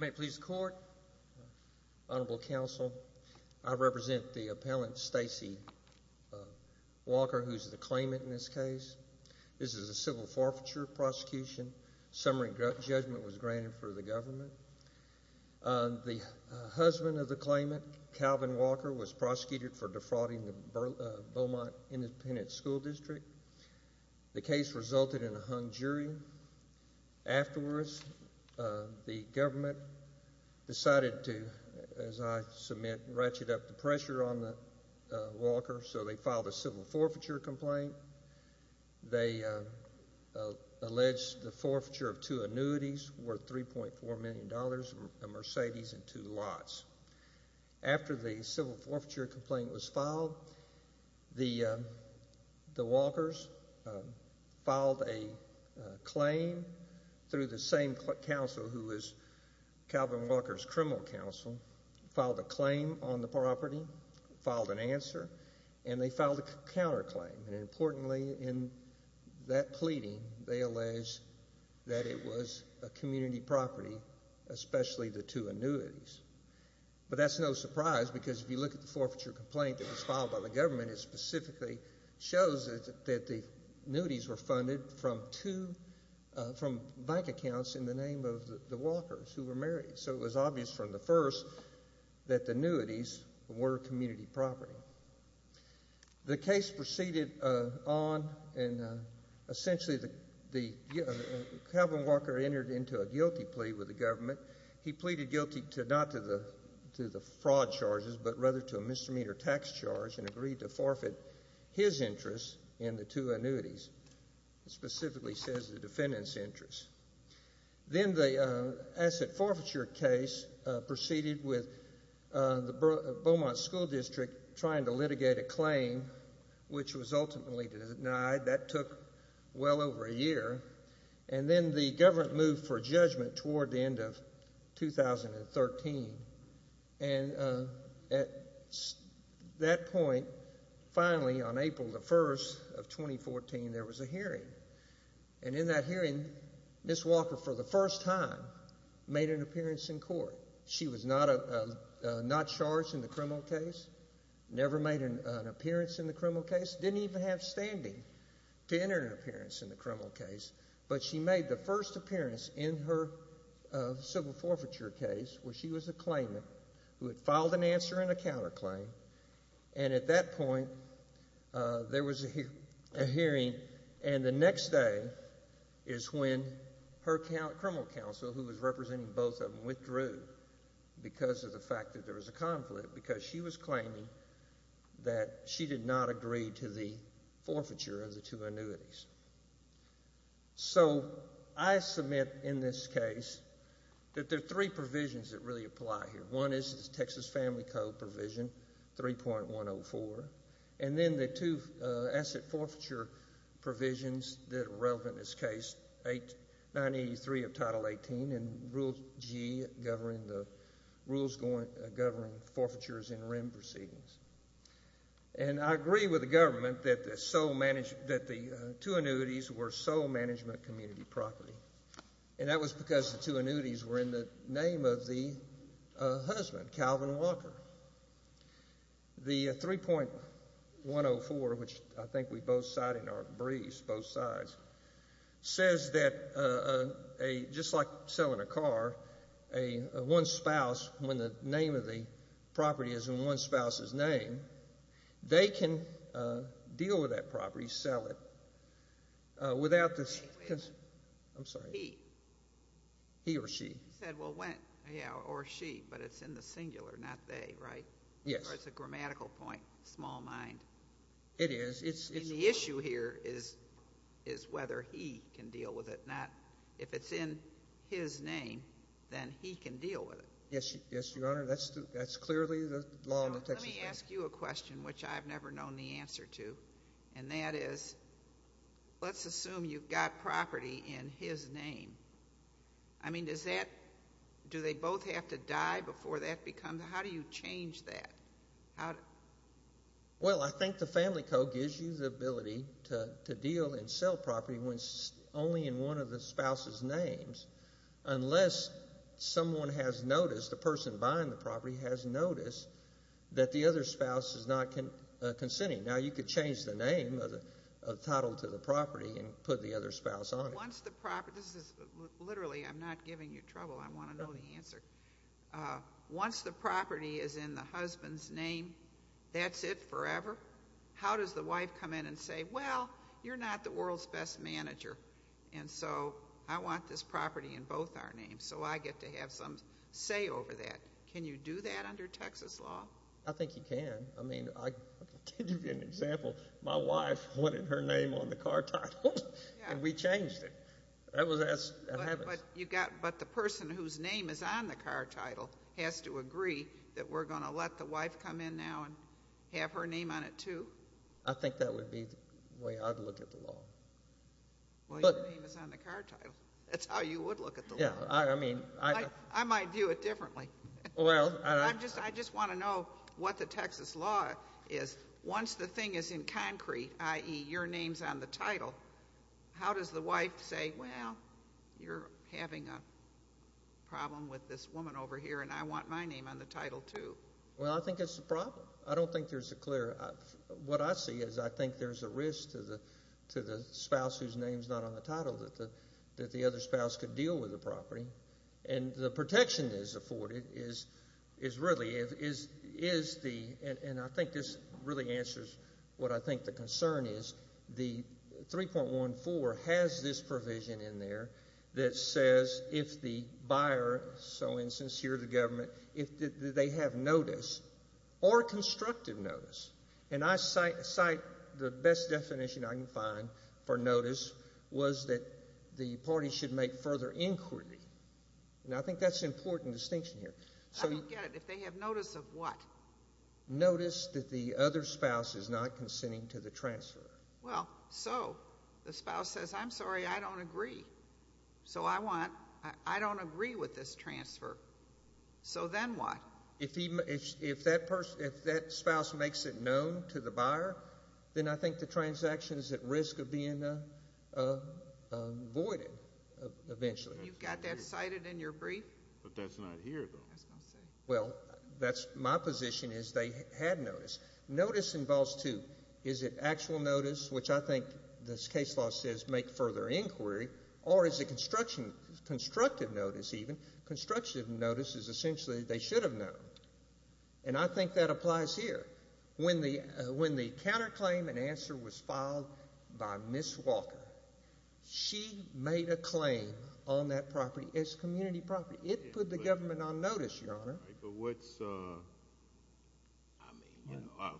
May it please the Court, Honorable Counsel, I represent the appellant Stacy Walker, who's the claimant in this case. This is a civil forfeiture prosecution. Summary judgment was granted for the government. The husband of the claimant, Calvin Walker, was prosecuted for defrauding the Beaumont Independent School District. The case resulted in a hung jury. Afterwards, the government decided to, as I submit, ratchet up the pressure on Walker, so they filed a civil forfeiture complaint. They alleged the forfeiture of two annuities worth $3.4 million, a Mercedes and two lots. After the civil forfeiture complaint was filed, the Walkers filed a claim through the same counsel who was Calvin Walker's criminal counsel, filed a claim on the property, filed an answer, and they filed a counterclaim. Importantly, in that pleading, they alleged that it was a community property, especially the two annuities. But that's no surprise, because if you look at the forfeiture complaint that was filed by the government, it specifically shows that the annuities were funded from bank accounts in the name of the Walkers who were married. So it was obvious from the first that the annuities were community property. The case proceeded on, and essentially Calvin Walker entered into a guilty plea with the government. He pleaded guilty not to the fraud charges, but rather to a misdemeanor tax charge and agreed to forfeit his interests in the two annuities. It specifically says the defendant's interests. Then the asset forfeiture case proceeded with the Beaumont School District trying to litigate a claim, which was ultimately denied. That took well over a year. And then the government moved for judgment toward the end of 2013. And at that point, finally, on April the 1st of 2014, there was a hearing. And in that hearing, Ms. Walker, for the first time, made an appearance in court. She was not charged in the criminal case, never made an appearance in the criminal case, didn't even have standing to enter an appearance in the criminal case. But she made the first appearance in her civil forfeiture case, where she was a claimant who had filed an answer in a counterclaim. And at that point, there was a hearing. And the next day is when her criminal counsel, who was representing both of them, withdrew because of the fact that there was a conflict, because she was claiming that she did not agree to the forfeiture of the two annuities. So I submit in this case that there are three provisions that really apply here. One is the Texas Family Code provision, 3.104. And then the two asset forfeiture provisions that are relevant in this case, 983 of Title 18 and Rule G, governing the rules governing forfeitures in REM proceedings. And I agree with the government that the two annuities were sole management community property. And that was because the two annuities were in the name of the husband, Calvin Walker. The 3.104, which I think we both cited in our briefs, both sides, says that just like selling a car, a one spouse, when the name of the property is in one spouse's name, they can deal with that property, sell it, without the... He said, well, when, yeah, or she, but it's in the singular, not they, right? Yes. Or it's a grammatical point, small mind. It is. It's... And the issue here is whether he can deal with it, not if it's in his name, then he can deal with it. Yes, Your Honor. That's clearly the law of the Texas family. Now, let me ask you a question, which I've never known the answer to. And that is, let's assume you've got property in his name. I mean, does that, do they both have to die before that becomes, how do you change that? Well, I think the family code gives you the ability to deal and sell property only in one of the spouse's names, unless someone has noticed, the person buying the property has noticed that the other spouse is not consenting. Now, you could change the name of the title to the property and put the other spouse on it. Once the property, this is, literally, I'm not giving you trouble. I want to know the answer. Once the property is in the husband's name, that's it forever? How does the wife come in and say, well, you're not the world's best manager, and so I want this property in both our names, so I get to have some say over that. Can you do that under Texas law? I think you can. I mean, I'll give you an example. My wife wanted her name on the car title, and we changed it. That was as it happens. But you got, but the person whose name is on the car title has to agree that we're going to let the wife come in now and have her name on it, too? I think that would be the way I'd look at the law. Well, your name is on the car title. That's how you would look at the law. Yeah, I mean, I I might view it differently. Well, I I just want to know what the Texas law is. Once the thing is in concrete, i.e., your name's on the title, how does the wife say, well, you're having a problem with this woman over here, and I want my name on the title, too? Well, I think it's a problem. I don't think there's a clear, what I see is I think there's a risk to the spouse whose name's not on the title that the other spouse could deal with the property. And the protection that is afforded is really, is the, and I think this really answers what I think the concern is, the 3.14 has this provision in there that says if the buyer, so in a sense here the government, if they have notice or constructive notice, and I cite the best definition I can find for notice was that the party should make further inquiry, and I think that's an important distinction here. I don't get it. If they have notice of what? Notice that the other spouse is not consenting to the transfer. Well, so the spouse says, I'm sorry, I don't agree. So I want, I don't agree with this transfer. So then what? If that spouse makes it known to the buyer, then I think the transaction is at risk of being voided eventually. You've got that cited in your brief? But that's not here, though. Well, that's my position is they had notice. Notice involves two. Is it actual notice, which I think this case law says or is it constructive notice even? Constructive notice is essentially they should have known, and I think that applies here. When the counterclaim and answer was filed by Ms. Walker, she made a claim on that property as community property. It put the government on notice, Your Honor. But what's, I mean, you know,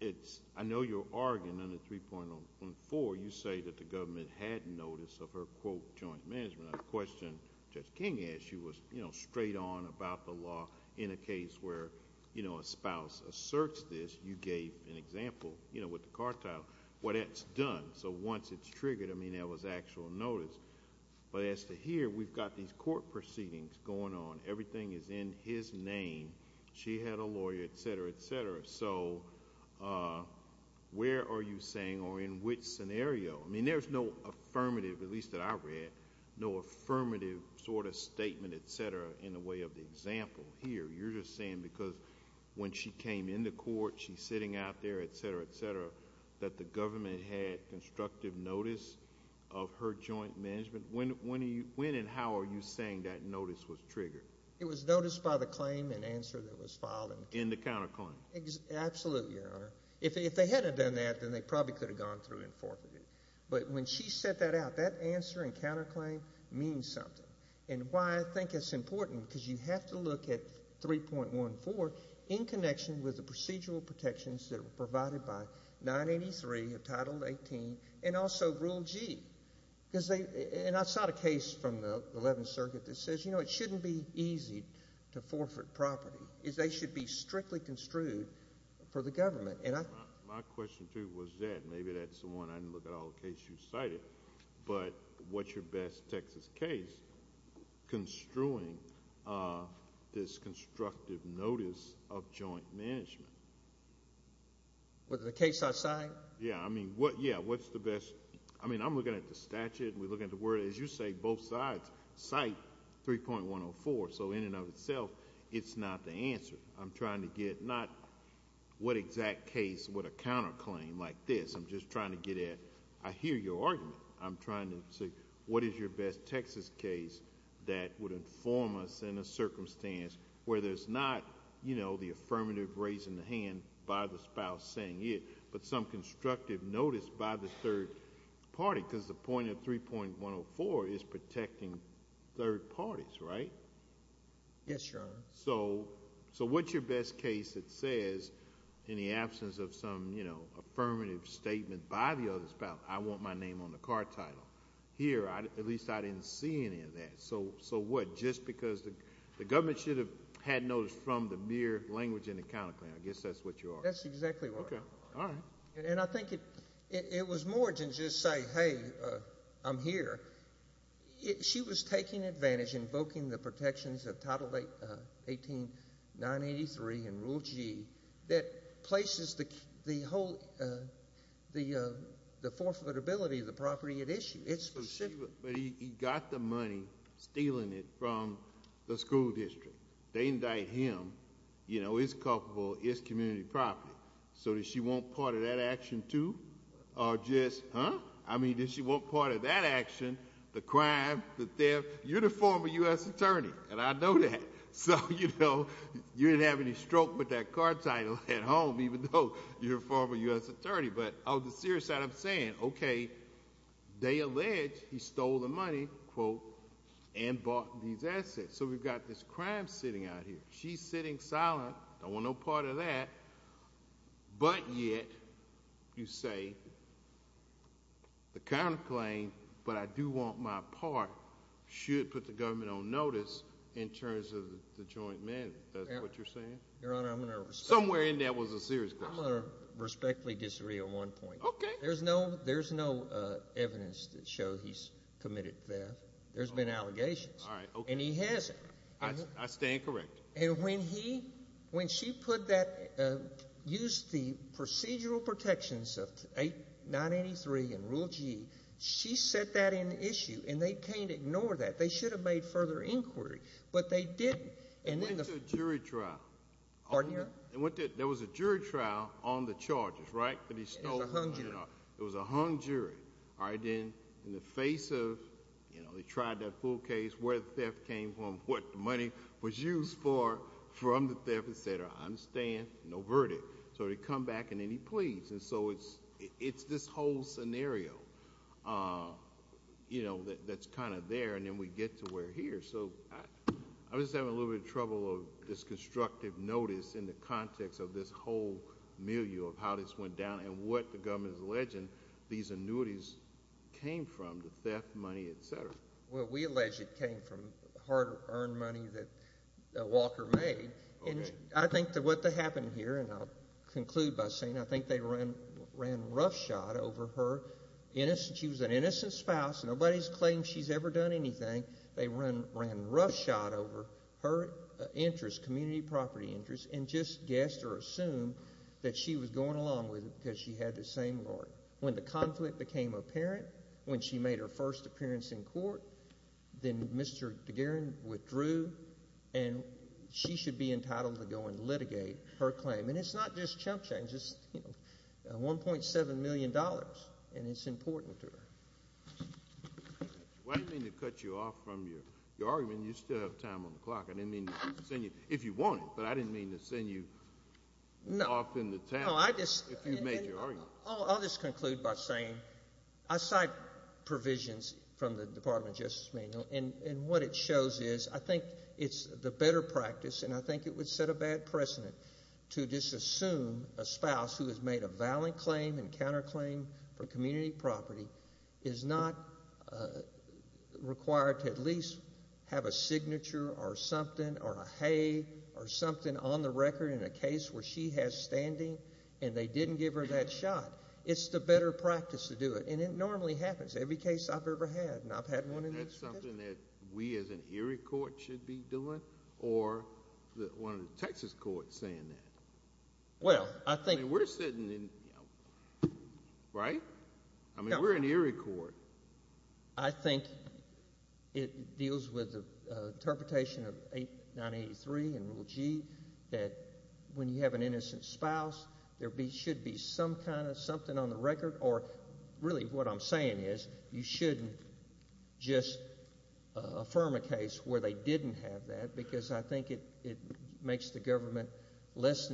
it's, I know you're arguing under 3.14, you say that the government had notice of her, quote, joint management. I question Judge King as she was, you know, straight on about the law in a case where, you know, a spouse asserts this. You gave an example, you know, with the cartel, what that's done. So once it's triggered, I mean, that was actual notice. But as to here, we've got these court proceedings going on. Everything is in his name. She had a lawyer, et cetera, et cetera. So where are you saying or in which scenario? I mean, there's no affirmative, at least that I read, no affirmative sort of statement, et cetera, in the way of the example here. You're just saying because when she came into court, she's sitting out there, et cetera, et cetera, that the government had constructive notice of her joint management. When and how are you saying that notice was triggered? It was noticed by the claim and answer that was filed. In the counterclaim. Absolutely, Your Honor. If they hadn't done that, then they probably could have gone through and forfeited. But when she set that out, that answer and counterclaim means something. And why I think it's important because you have to look at 3.14 in connection with the procedural protections that were provided by 983 of Title 18 and also Rule G. And I saw the case from the 11th Circuit that says, you know, it shouldn't be easy to forfeit property. They should be strictly construed for the government. My question, too, was that. Maybe that's the one I didn't look at all the cases you cited. But what's your best Texas case construing this constructive notice of joint management? With the case I cite? Yeah, I mean, what's the best? I mean, I'm looking at the statute and we're looking at the word. As you say, both sides cite 3.104. So in and of itself, it's not the answer. I'm trying to get not what exact case with a counterclaim like this. I'm just trying to get at. I hear your argument. I'm trying to see what is your best Texas case that would inform us in a circumstance where there's not, you know, the affirmative raising the hand by the spouse saying it, but some constructive notice by the third party. Because the point of 3.104 is protecting third parties, right? Yes, Your Honor. So what's your best case that says in the absence of some, you know, affirmative statement by the other spouse, I want my name on the car title? Here, at least I didn't see any of that. So what? Just because the government should have had notice from the mere language in the counterclaim. I guess that's what you are. That's exactly right. Okay. All right. And I think it was more than just say, hey, I'm here. She was taking advantage, invoking the protections of Title 18983 and Rule G that places the whole, the forfeitability of the property at issue. It's specific. But he got the money, stealing it from the school district. They indict him, you know, it's culpable, it's community property. So does she want part of that action, too? Or just, huh? I mean, does she want part of that action, the crime, the theft? You're the former U.S. attorney, and I know that. So, you know, you didn't have any stroke with that car title at home, even though you're a former U.S. attorney. But on the serious side, I'm saying, okay, they allege he stole the money, quote, and bought these assets. So we've got this crime sitting out here. She's sitting silent. Don't want no part of that. But yet you say the counterclaim, but I do want my part, should put the government on notice in terms of the joint mandate. Is that what you're saying? Your Honor, I'm going to respectfully disagree. Somewhere in there was a serious question. I'm going to respectfully disagree on one point. Okay. There's no evidence that shows he's committed theft. There's been allegations. All right, okay. And he hasn't. I stand corrected. And when he, when she put that, used the procedural protections of 983 and Rule G, she set that in issue. And they can't ignore that. They should have made further inquiry. But they didn't. Went to a jury trial. Pardon me? There was a jury trial on the charges, right? That he stole the money. It was a hung jury. It was a hung jury. From the theft, et cetera. I understand. No verdict. So they come back and then he pleads. And so it's this whole scenario, you know, that's kind of there. And then we get to where we're here. So I'm just having a little bit of trouble with this constructive notice in the context of this whole milieu of how this went down and what the government is alleging these annuities came from, the theft money, et cetera. Well, we allege it came from hard-earned money that Walker made. And I think what happened here, and I'll conclude by saying I think they ran roughshod over her. She was an innocent spouse. Nobody's claimed she's ever done anything. They ran roughshod over her interests, community property interests, and just guessed or assumed that she was going along with it because she had the same lawyer. When the conflict became apparent, when she made her first appearance in court, then Mr. DeGaran withdrew, and she should be entitled to go and litigate her claim. And it's not just chump change. It's $1.7 million, and it's important to her. I didn't mean to cut you off from your argument. You still have time on the clock. I didn't mean to send you if you wanted, but I didn't mean to send you off in the town if you made your argument. I'll just conclude by saying I cite provisions from the Department of Justice manual, and what it shows is I think it's the better practice, and I think it would set a bad precedent to disassume a spouse who has made a valid claim and counterclaim for community property is not required to at least have a signature or something or a hay or something on the record in a case where she has standing, and they didn't give her that shot. It's the better practice to do it, and it normally happens. Every case I've ever had, and I've had one in each case. Isn't that something that we as an Erie court should be doing or one of the Texas courts saying that? Well, I think— I mean, we're sitting in—right? I mean, we're an Erie court. I think it deals with the interpretation of 983 and Rule G that when you have an innocent spouse, there should be some kind of something on the record, or really what I'm saying is you shouldn't just affirm a case where they didn't have that because I think it makes the government less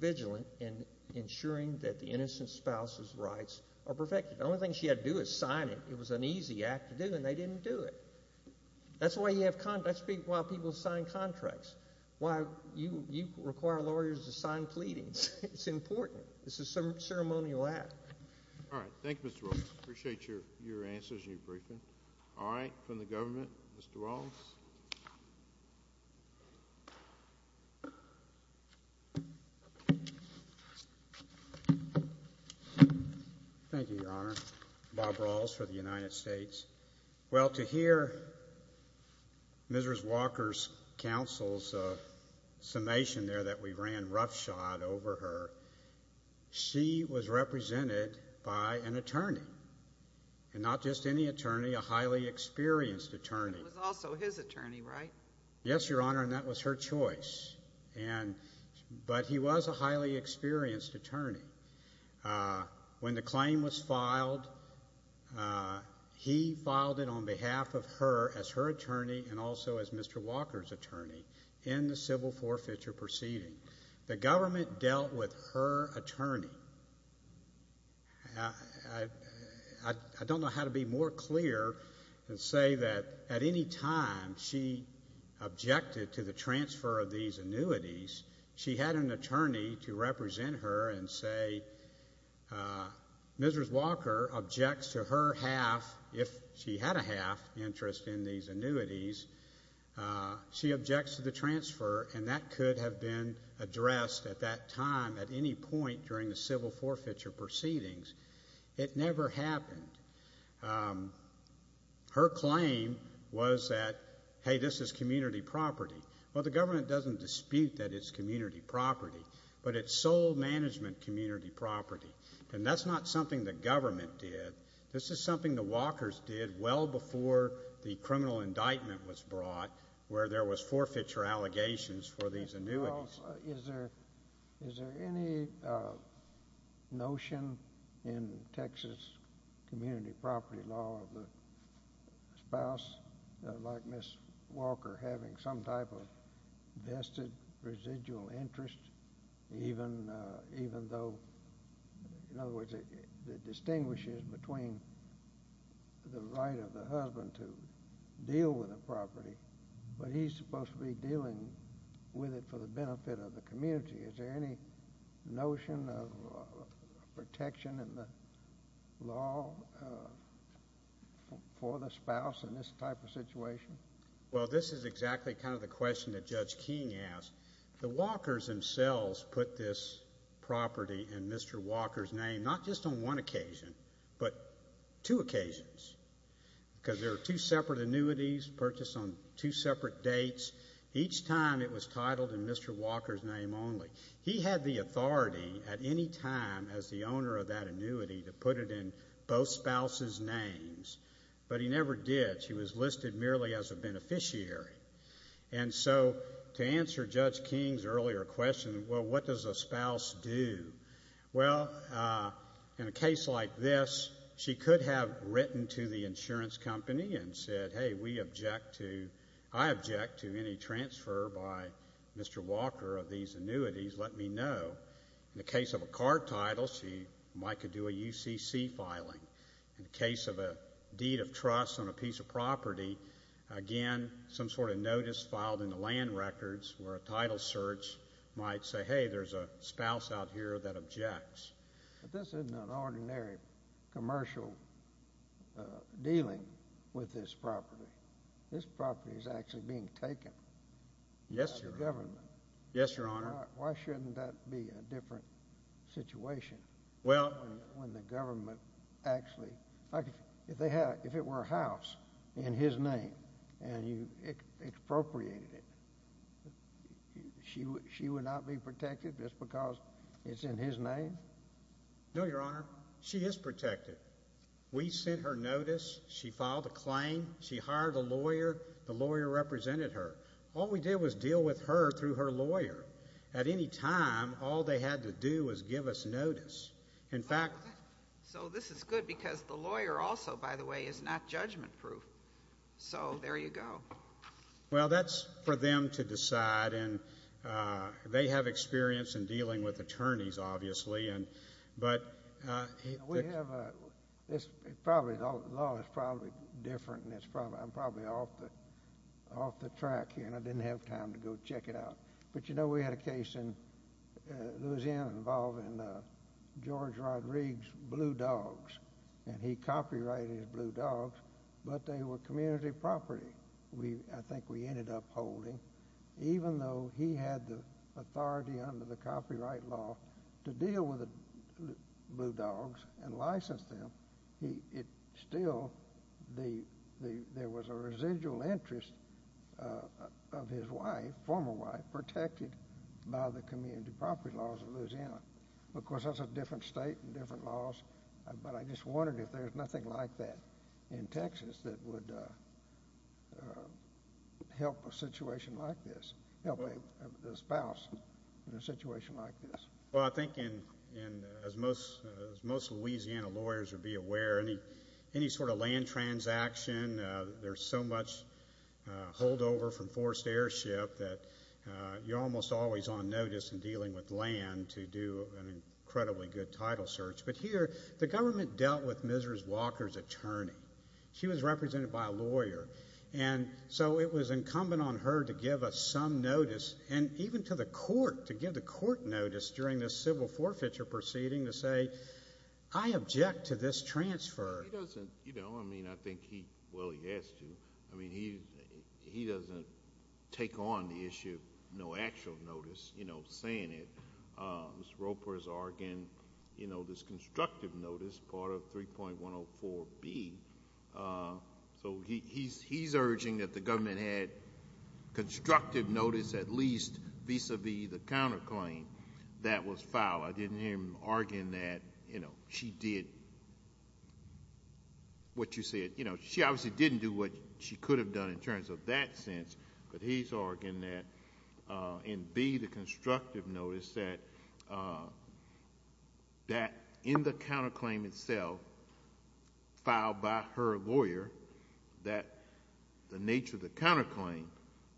vigilant in ensuring that the innocent spouse's rights are perfected. The only thing she had to do was sign it. It was an easy act to do, and they didn't do it. That's why you have—that's why people sign contracts, why you require lawyers to sign pleadings. It's important. This is a ceremonial act. All right. Thank you, Mr. Wallace. I appreciate your answers and your briefing. All right. From the government, Mr. Wallace. Thank you, Your Honor. Bob Rawls for the United States. Well, to hear Ms. Walker's counsel's summation there that we ran roughshod over her, she was represented by an attorney, and not just any attorney, a highly experienced attorney. It was also his attorney, right? Yes, Your Honor, and that was her choice. But he was a highly experienced attorney. When the claim was filed, he filed it on behalf of her as her attorney and also as Mr. Walker's attorney in the civil forfeiture proceeding. The government dealt with her attorney. I don't know how to be more clear and say that at any time she objected to the transfer of these annuities. She had an attorney to represent her and say Ms. Walker objects to her half, if she had a half interest in these annuities, she objects to the transfer, and that could have been addressed at that time at any point during the civil forfeiture proceedings. It never happened. Her claim was that, hey, this is community property. Well, the government doesn't dispute that it's community property, but it's sole management community property, and that's not something the government did. This is something the Walkers did well before the criminal indictment was brought where there was forfeiture allegations for these annuities. Well, is there any notion in Texas community property law of the spouse, like Ms. Walker, having some type of vested residual interest even though, in other words, it distinguishes between the right of the husband to deal with the property, but he's supposed to be dealing with it for the benefit of the community. Is there any notion of protection in the law for the spouse in this type of situation? Well, this is exactly kind of the question that Judge King asked. The Walkers themselves put this property in Mr. Walker's name not just on one occasion but two occasions because there are two separate annuities purchased on two separate dates. Each time it was titled in Mr. Walker's name only. He had the authority at any time as the owner of that annuity to put it in both spouses' names, but he never did. She was listed merely as a beneficiary. And so to answer Judge King's earlier question, well, what does a spouse do? Well, in a case like this, she could have written to the insurance company and said, hey, we object to, I object to any transfer by Mr. Walker of these annuities. Let me know. In the case of a card title, she might do a UCC filing. In the case of a deed of trust on a piece of property, again, some sort of notice filed in the land records where a title search might say, hey, there's a spouse out here that objects. But this isn't an ordinary commercial dealing with this property. This property is actually being taken by the government. Yes, Your Honor. Why shouldn't that be a different situation when the government actually, if it were a house in his name and you expropriated it, she would not be protected just because it's in his name? No, Your Honor. She is protected. We sent her notice. She filed a claim. She hired a lawyer. The lawyer represented her. All we did was deal with her through her lawyer. At any time, all they had to do was give us notice. In fact, So this is good because the lawyer also, by the way, is not judgment-proof. So there you go. Well, that's for them to decide, and they have experience in dealing with attorneys, obviously. We have a law that's probably different, and I'm probably off the track here, and I didn't have time to go check it out. But, you know, we had a case in Louisiana involving George Rodriguez's blue dogs, and he copyrighted his blue dogs, but they were community property, I think we ended up holding, even though he had the authority under the copyright law to deal with the blue dogs and license them, still there was a residual interest of his wife, former wife, protected by the community property laws of Louisiana. Of course, that's a different state and different laws, but I just wondered if there's nothing like that in Texas that would help a situation like this, help a spouse in a situation like this. Well, I think as most Louisiana lawyers would be aware, any sort of land transaction, there's so much holdover from forced airship that you're almost always on notice in dealing with land to do an incredibly good title search. But here, the government dealt with Ms. Walker's attorney. She was represented by a lawyer, and so it was incumbent on her to give us some notice, and even to the court, to give the court notice during this civil forfeiture proceeding to say, I object to this transfer. He doesn't, you know, I mean, I think he, well, he has to. I mean, he doesn't take on the issue, no actual notice, you know, saying it. Ms. Roper is arguing, you know, this constructive notice, part of 3.104B. So he's urging that the government had constructive notice at least vis-a-vis the counterclaim that was filed. I didn't hear him arguing that, you know, she did what you said. You know, she obviously didn't do what she could have done in terms of that sense, but he's arguing that in B, the constructive notice that in the counterclaim itself filed by her lawyer, that the nature of the counterclaim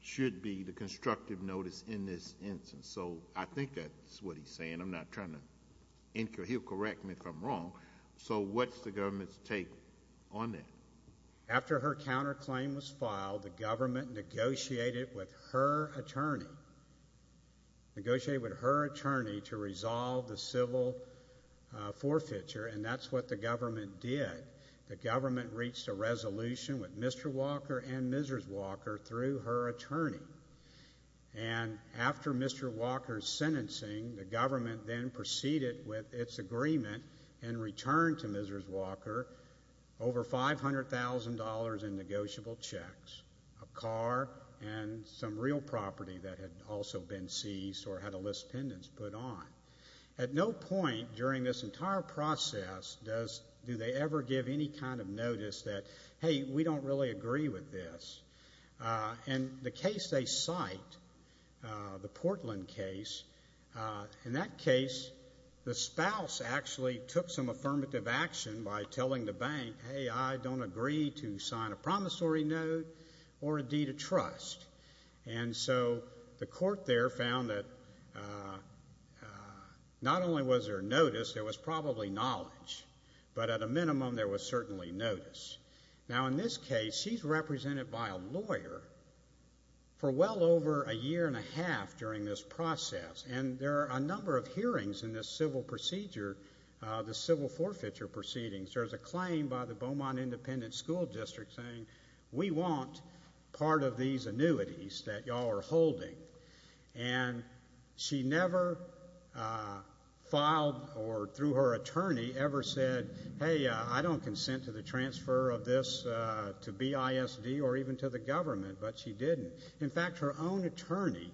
should be the constructive notice in this instance. So I think that's what he's saying. I'm not trying to incur. He'll correct me if I'm wrong. So what's the government's take on that? After her counterclaim was filed, the government negotiated with her attorney, negotiated with her attorney to resolve the civil forfeiture, and that's what the government did. The government reached a resolution with Mr. Walker and Mrs. Walker through her attorney. And after Mr. Walker's sentencing, the government then proceeded with its agreement and returned to Mrs. Walker over $500,000 in negotiable checks, a car, and some real property that had also been seized or had a list of pendants put on. At no point during this entire process do they ever give any kind of notice that, hey, we don't really agree with this. And the case they cite, the Portland case, in that case the spouse actually took some affirmative action by telling the bank, hey, I don't agree to sign a promissory note or a deed of trust. And so the court there found that not only was there notice, there was probably knowledge, but at a minimum there was certainly notice. Now, in this case, she's represented by a lawyer for well over a year and a half during this process, and there are a number of hearings in this civil procedure, the civil forfeiture proceedings. There's a claim by the Beaumont Independent School District saying we want part of these annuities that y'all are holding. And she never filed or through her attorney ever said, hey, I don't consent to the transfer of this to BISD or even to the government, but she didn't. In fact, her own attorney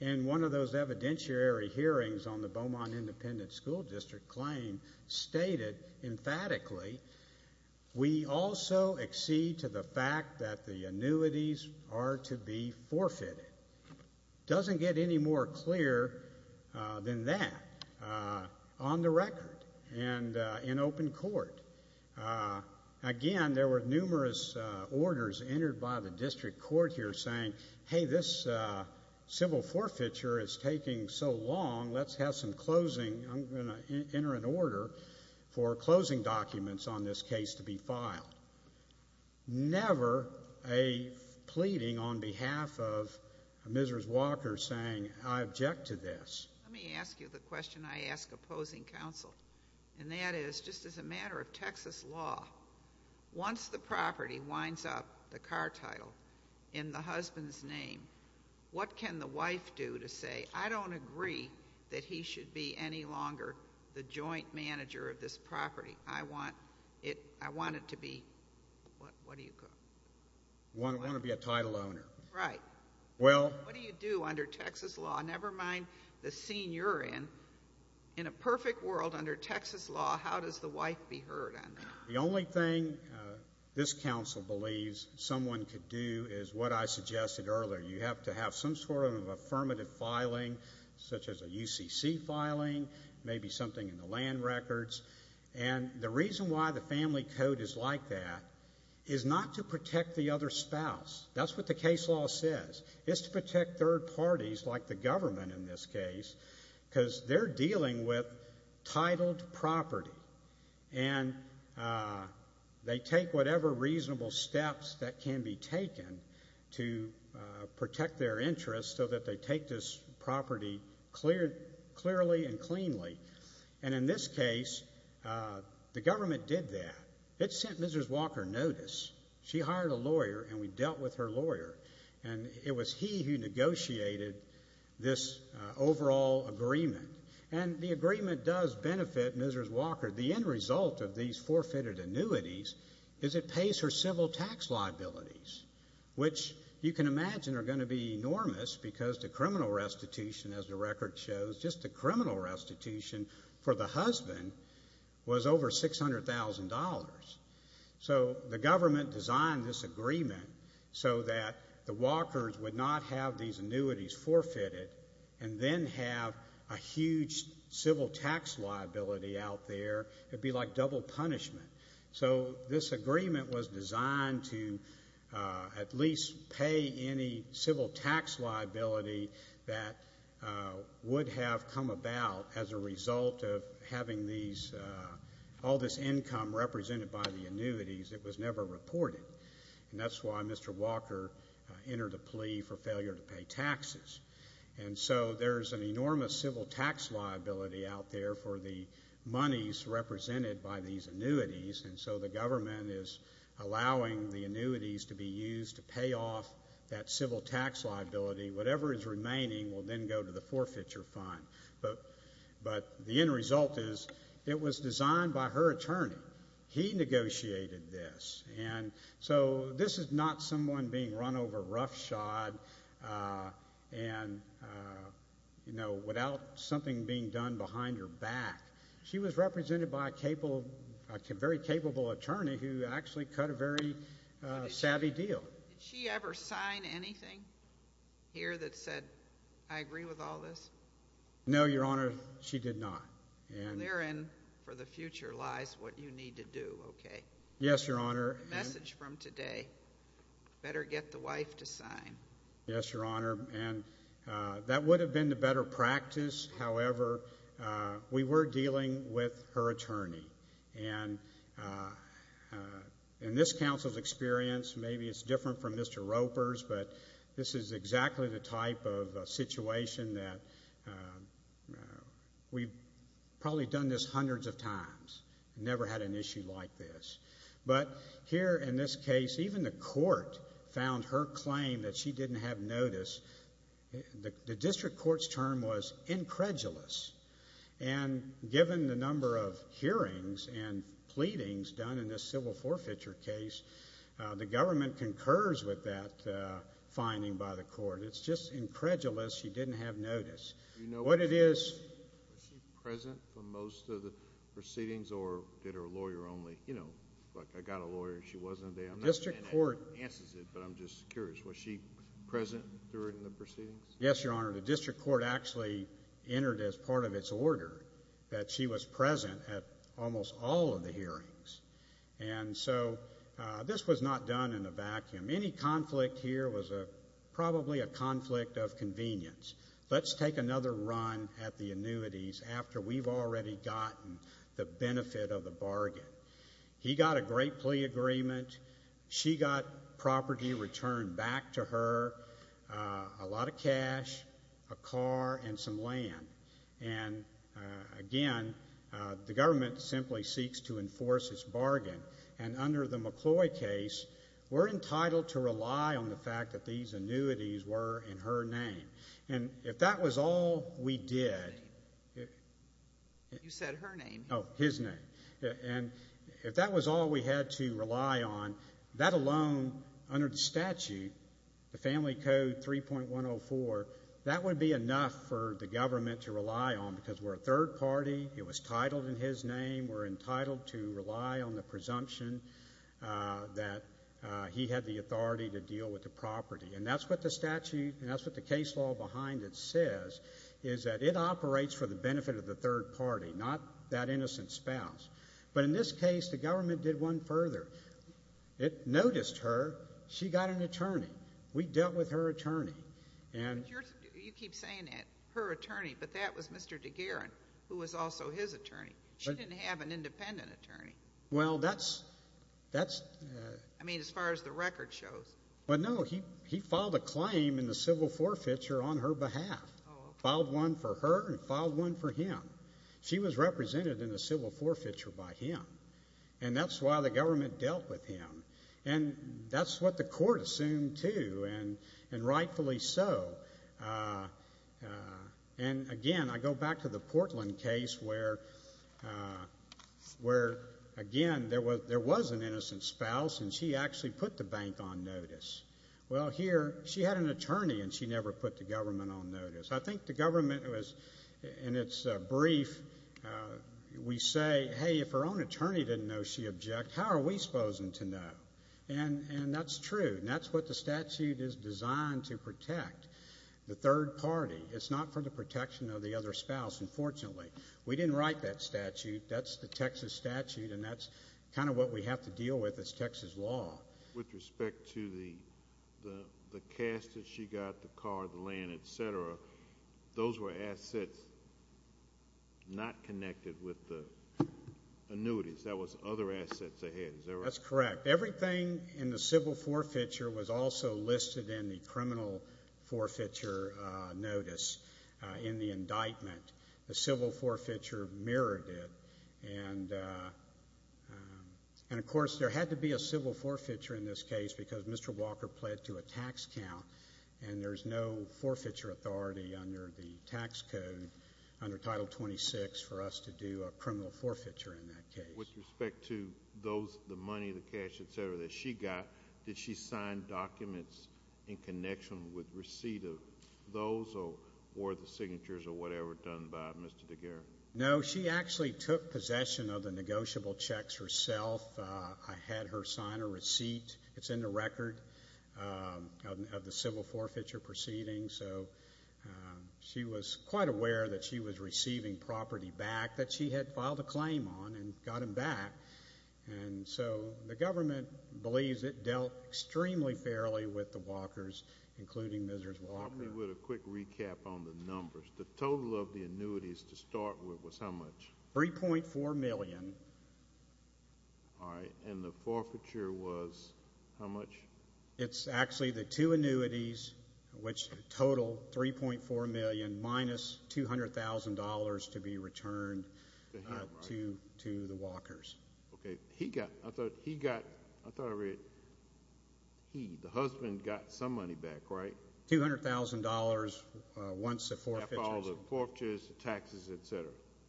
in one of those evidentiary hearings on the Beaumont Independent School District claim stated emphatically, we also accede to the fact that the annuities are to be forfeited. It doesn't get any more clear than that on the record and in open court. Again, there were numerous orders entered by the district court here saying, hey, this civil forfeiture is taking so long. Let's have some closing. I'm going to enter an order for closing documents on this case to be filed. Never a pleading on behalf of a miserous walker saying I object to this. Let me ask you the question I ask opposing counsel, and that is just as a matter of Texas law, once the property winds up, the car title, in the husband's name, what can the wife do to say, I don't agree that he should be any longer the joint manager of this property. I want it to be, what do you call it? I want to be a title owner. Right. What do you do under Texas law, never mind the scene you're in? In a perfect world under Texas law, how does the wife be heard on that? The only thing this counsel believes someone could do is what I suggested earlier. You have to have some sort of affirmative filing such as a UCC filing, maybe something in the land records. And the reason why the family code is like that is not to protect the other spouse. That's what the case law says. It's to protect third parties like the government in this case because they're dealing with titled property. And they take whatever reasonable steps that can be taken to protect their interest so that they take this property clearly and cleanly. And in this case, the government did that. It sent Mrs. Walker notice. She hired a lawyer, and we dealt with her lawyer. And it was he who negotiated this overall agreement. And the agreement does benefit Mrs. Walker. The end result of these forfeited annuities is it pays her civil tax liabilities, which you can imagine are going to be enormous because the criminal restitution, as the record shows, just the criminal restitution for the husband was over $600,000. So the government designed this agreement so that the Walkers would not have these annuities forfeited and then have a huge civil tax liability out there. It would be like double punishment. So this agreement was designed to at least pay any civil tax liability that would have come about as a result of having all this income represented by the annuities. It was never reported. And that's why Mr. Walker entered a plea for failure to pay taxes. And so there's an enormous civil tax liability out there for the monies represented by these annuities. And so the government is allowing the annuities to be used to pay off that civil tax liability. Whatever is remaining will then go to the forfeiture fund. But the end result is it was designed by her attorney. He negotiated this. And so this is not someone being run over roughshod and, you know, without something being done behind her back. She was represented by a very capable attorney who actually cut a very savvy deal. Did she ever sign anything here that said, I agree with all this? No, Your Honor, she did not. And therein for the future lies what you need to do, okay? Yes, Your Honor. The message from today, better get the wife to sign. Yes, Your Honor. And that would have been the better practice. However, we were dealing with her attorney. And in this counsel's experience, maybe it's different from Mr. Roper's, but this is exactly the type of situation that we've probably done this hundreds of times and never had an issue like this. But here in this case, even the court found her claim that she didn't have notice. The district court's term was incredulous. And given the number of hearings and pleadings done in this civil forfeiture case, the government concurs with that finding by the court. It's just incredulous she didn't have notice. What it is. Was she present for most of the proceedings or did her lawyer only, you know, like I got a lawyer and she wasn't there? The district court. I'm not saying that answers it, but I'm just curious. Was she present during the proceedings? Yes, Your Honor. The district court actually entered as part of its order that she was present at almost all of the hearings. And so this was not done in a vacuum. Any conflict here was probably a conflict of convenience. Let's take another run at the annuities after we've already gotten the benefit of the bargain. He got a great plea agreement. She got property returned back to her. A lot of cash, a car, and some land. And, again, the government simply seeks to enforce its bargain. And under the McCloy case, we're entitled to rely on the fact that these annuities were in her name. And if that was all we did. You said her name. Oh, his name. And if that was all we had to rely on, that alone under the statute, the Family Code 3.104, that would be enough for the government to rely on because we're a third party. It was titled in his name. We're entitled to rely on the presumption that he had the authority to deal with the property. And that's what the statute and that's what the case law behind it says, is that it operates for the benefit of the third party, not that innocent spouse. But in this case, the government did one further. It noticed her. She got an attorney. We dealt with her attorney. You keep saying that, her attorney, but that was Mr. DeGaran, who was also his attorney. She didn't have an independent attorney. Well, that's... I mean, as far as the record shows. But, no, he filed a claim in the civil forfeiture on her behalf. Filed one for her and filed one for him. She was represented in the civil forfeiture by him, and that's why the government dealt with him. And that's what the court assumed too, and rightfully so. And, again, I go back to the Portland case where, again, there was an innocent spouse and she actually put the bank on notice. Well, here, she had an attorney and she never put the government on notice. I think the government was, in its brief, we say, hey, if her own attorney didn't know she object, how are we supposed to know? And that's true, and that's what the statute is designed to protect, the third party. It's not for the protection of the other spouse, unfortunately. We didn't write that statute. That's the Texas statute, and that's kind of what we have to deal with as Texas law. With respect to the cash that she got, the car, the land, et cetera, those were assets not connected with the annuities. That was other assets ahead, is that right? That's correct. Everything in the civil forfeiture was also listed in the criminal forfeiture notice in the indictment. The civil forfeiture mirrored it. And, of course, there had to be a civil forfeiture in this case because Mr. Walker pled to a tax count, and there's no forfeiture authority under the tax code under Title 26 for us to do a criminal forfeiture in that case. With respect to those, the money, the cash, et cetera, that she got, did she sign documents in connection with receipt of those or the signatures or whatever done by Mr. Daguerre? No. She actually took possession of the negotiable checks herself. I had her sign a receipt. It's in the record of the civil forfeiture proceedings. So she was quite aware that she was receiving property back that she had filed a claim on and got them back. And so the government believes it dealt extremely fairly with the Walkers, including Mrs. Walker. Let me do a quick recap on the numbers. The total of the annuities to start with was how much? $3.4 million. All right. And the forfeiture was how much? It's actually the two annuities, which total $3.4 million, minus $200,000 to be returned to the Walkers. Okay. I thought I read he, the husband, got some money back, right? $200,000 once the forfeiture is done. After all the forfeitures, the taxes, et cetera.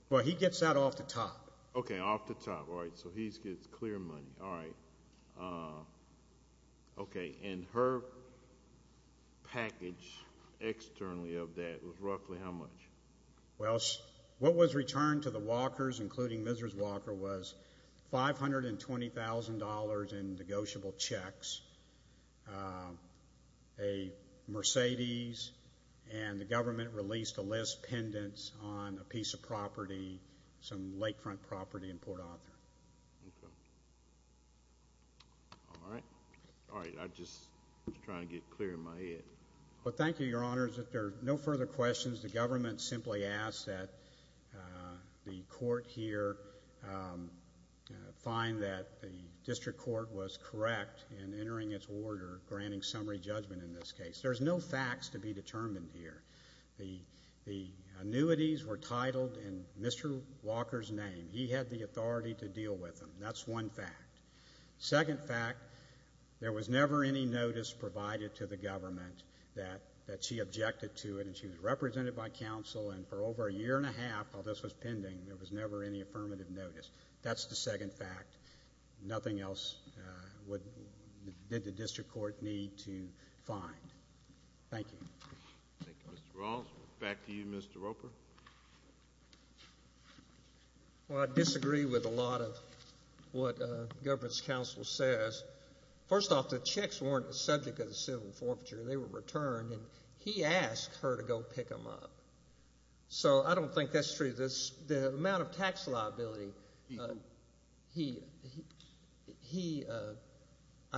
Well, he gets that off the top. Okay, off the top. All right. So he gets clear money. All right. Okay. And her package externally of that was roughly how much? Well, what was returned to the Walkers, including Mrs. Walker, was $520,000 in negotiable checks, a Mercedes, and the government released a list pendants on a piece of property, some lakefront property in Port Arthur. Okay. All right. All right. I'm just trying to get clear in my head. Well, thank you, Your Honors. If there are no further questions, the government simply asks that the court here find that the district court was correct in entering its order granting summary judgment in this case. There's no facts to be determined here. The annuities were titled in Mr. Walker's name. He had the authority to deal with them. That's one fact. Second fact, there was never any notice provided to the government that she objected to it, and she was represented by counsel, and for over a year and a half while this was pending, there was never any affirmative notice. That's the second fact. Nothing else did the district court need to find. Thank you. Thank you, Mr. Ross. Back to you, Mr. Roper. Well, I disagree with a lot of what the government's counsel says. First off, the checks weren't the subject of the civil forfeiture. They were returned, and he asked her to go pick them up. So I don't think that's true. The amount of tax liability, I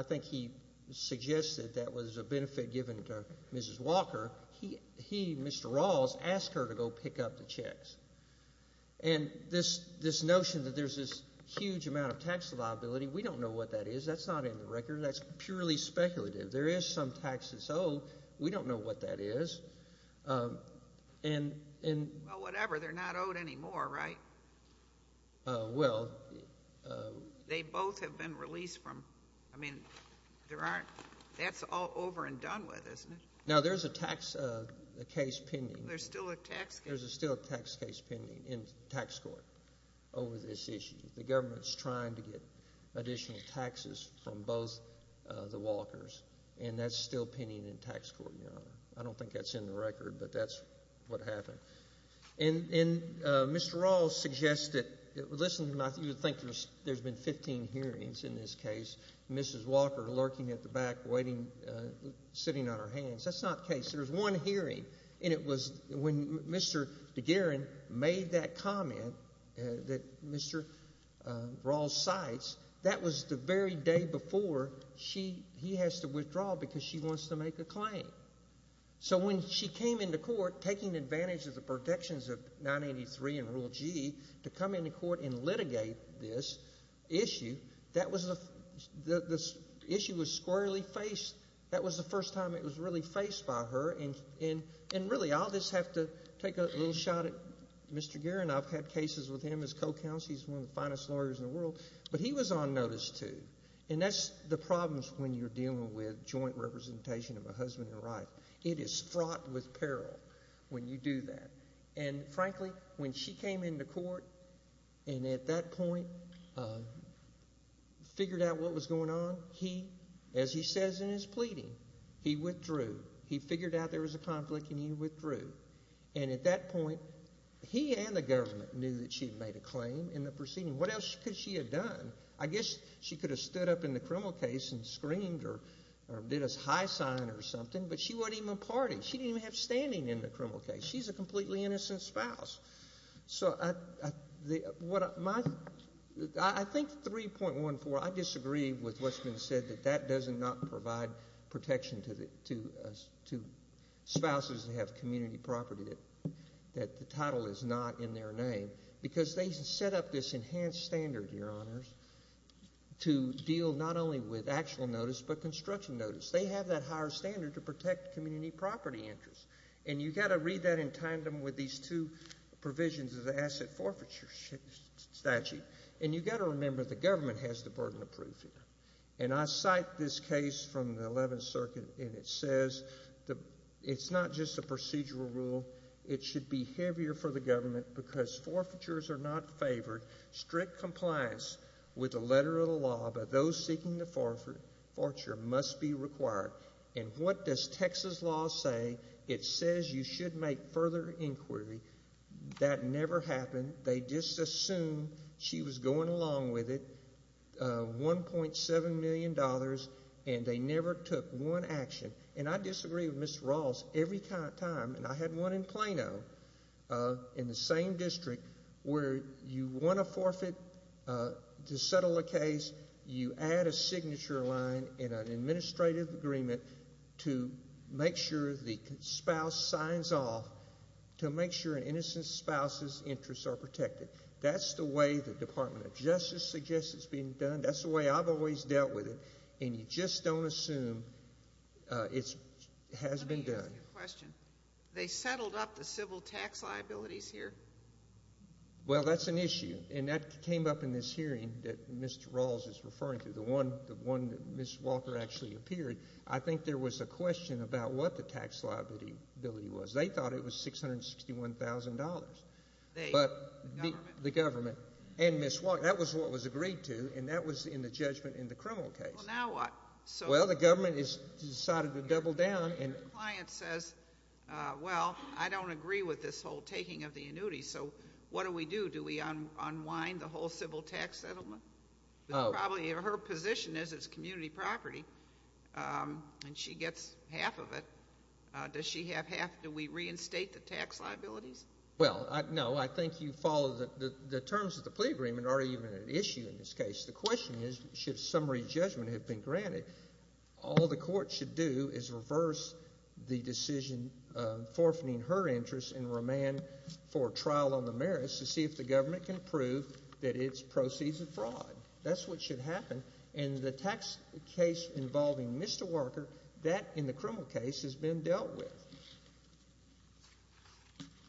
think he suggested that was a benefit given to Mrs. Walker. He, Mr. Ross, asked her to go pick up the checks. And this notion that there's this huge amount of tax liability, we don't know what that is. That's not in the record. That's purely speculative. There is some taxes owed. We don't know what that is. Well, whatever. They're not owed anymore, right? Well. They both have been released from, I mean, there aren't, that's all over and done with, isn't it? Now, there's a tax case pending. There's still a tax case. There's still a tax case pending in tax court over this issue. The government's trying to get additional taxes from both the Walkers, and that's still pending in tax court, Your Honor. I don't think that's in the record, but that's what happened. And Mr. Ross suggested, listen to me, I think there's been 15 hearings in this case, Mrs. Walker lurking at the back, waiting, sitting on her hands. That's not the case. There was one hearing, and it was when Mr. DeGaran made that comment that Mr. Ross cites, that was the very day before he has to withdraw because she wants to make a claim. So when she came into court, taking advantage of the protections of 983 and Rule G, to come into court and litigate this issue, that was the issue was squarely faced. That was the first time it was really faced by her, and really I'll just have to take a little shot at Mr. DeGaran. I've had cases with him as co-counsel. He's one of the finest lawyers in the world. But he was on notice too, and that's the problems when you're dealing with joint representation of a husband and wife. It is fraught with peril when you do that. And frankly, when she came into court and at that point figured out what was going on, he, as he says in his pleading, he withdrew. He figured out there was a conflict and he withdrew. And at that point, he and the government knew that she had made a claim in the proceeding. What else could she have done? I guess she could have stood up in the criminal case and screamed or did a high sign or something, but she wouldn't even party. She didn't even have standing in the criminal case. She's a completely innocent spouse. So I think 3.14, I disagree with what's been said, that that does not provide protection to spouses that have community property, that the title is not in their name, because they set up this enhanced standard, Your Honors, to deal not only with actual notice but construction notice. They have that higher standard to protect community property interests. And you've got to read that in tandem with these two provisions of the asset forfeiture statute. And you've got to remember the government has the burden of proof here. And I cite this case from the Eleventh Circuit, and it says it's not just a procedural rule. It should be heavier for the government because forfeitures are not favored. Strict compliance with the letter of the law by those seeking the forfeiture must be required. And what does Texas law say? It says you should make further inquiry. That never happened. They just assumed she was going along with it. $1.7 million, and they never took one action. And I disagree with Ms. Rawls every time. And I had one in Plano in the same district where you want to forfeit to settle a case, you add a signature line and an administrative agreement to make sure the spouse signs off to make sure an innocent spouse's interests are protected. That's the way the Department of Justice suggests it's being done. That's the way I've always dealt with it. And you just don't assume it has been done. Let me ask you a question. They settled up the civil tax liabilities here? Well, that's an issue. And that came up in this hearing that Ms. Rawls is referring to, the one that Ms. Walker actually appeared. I think there was a question about what the tax liability was. They thought it was $661,000. But the government and Ms. Walker, that was what was agreed to, and that was in the judgment in the criminal case. Well, now what? Well, the government has decided to double down. And your client says, well, I don't agree with this whole taking of the annuity, so what do we do? Do we unwind the whole civil tax settlement? Probably her position is it's community property, and she gets half of it. Does she have half? Do we reinstate the tax liabilities? Well, no. I think you follow the terms of the plea agreement are even an issue in this case. The question is, should a summary judgment have been granted, all the court should do is reverse the decision forfeiting her interests and remand for trial on the merits to see if the government can prove that it's proceeds of fraud. That's what should happen. And the tax case involving Ms. Walker, that in the criminal case has been dealt with.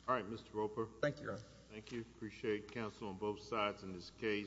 All right, Mr. Roper. Thank you, Your Honor. Thank you. Appreciate counsel on both sides in this case.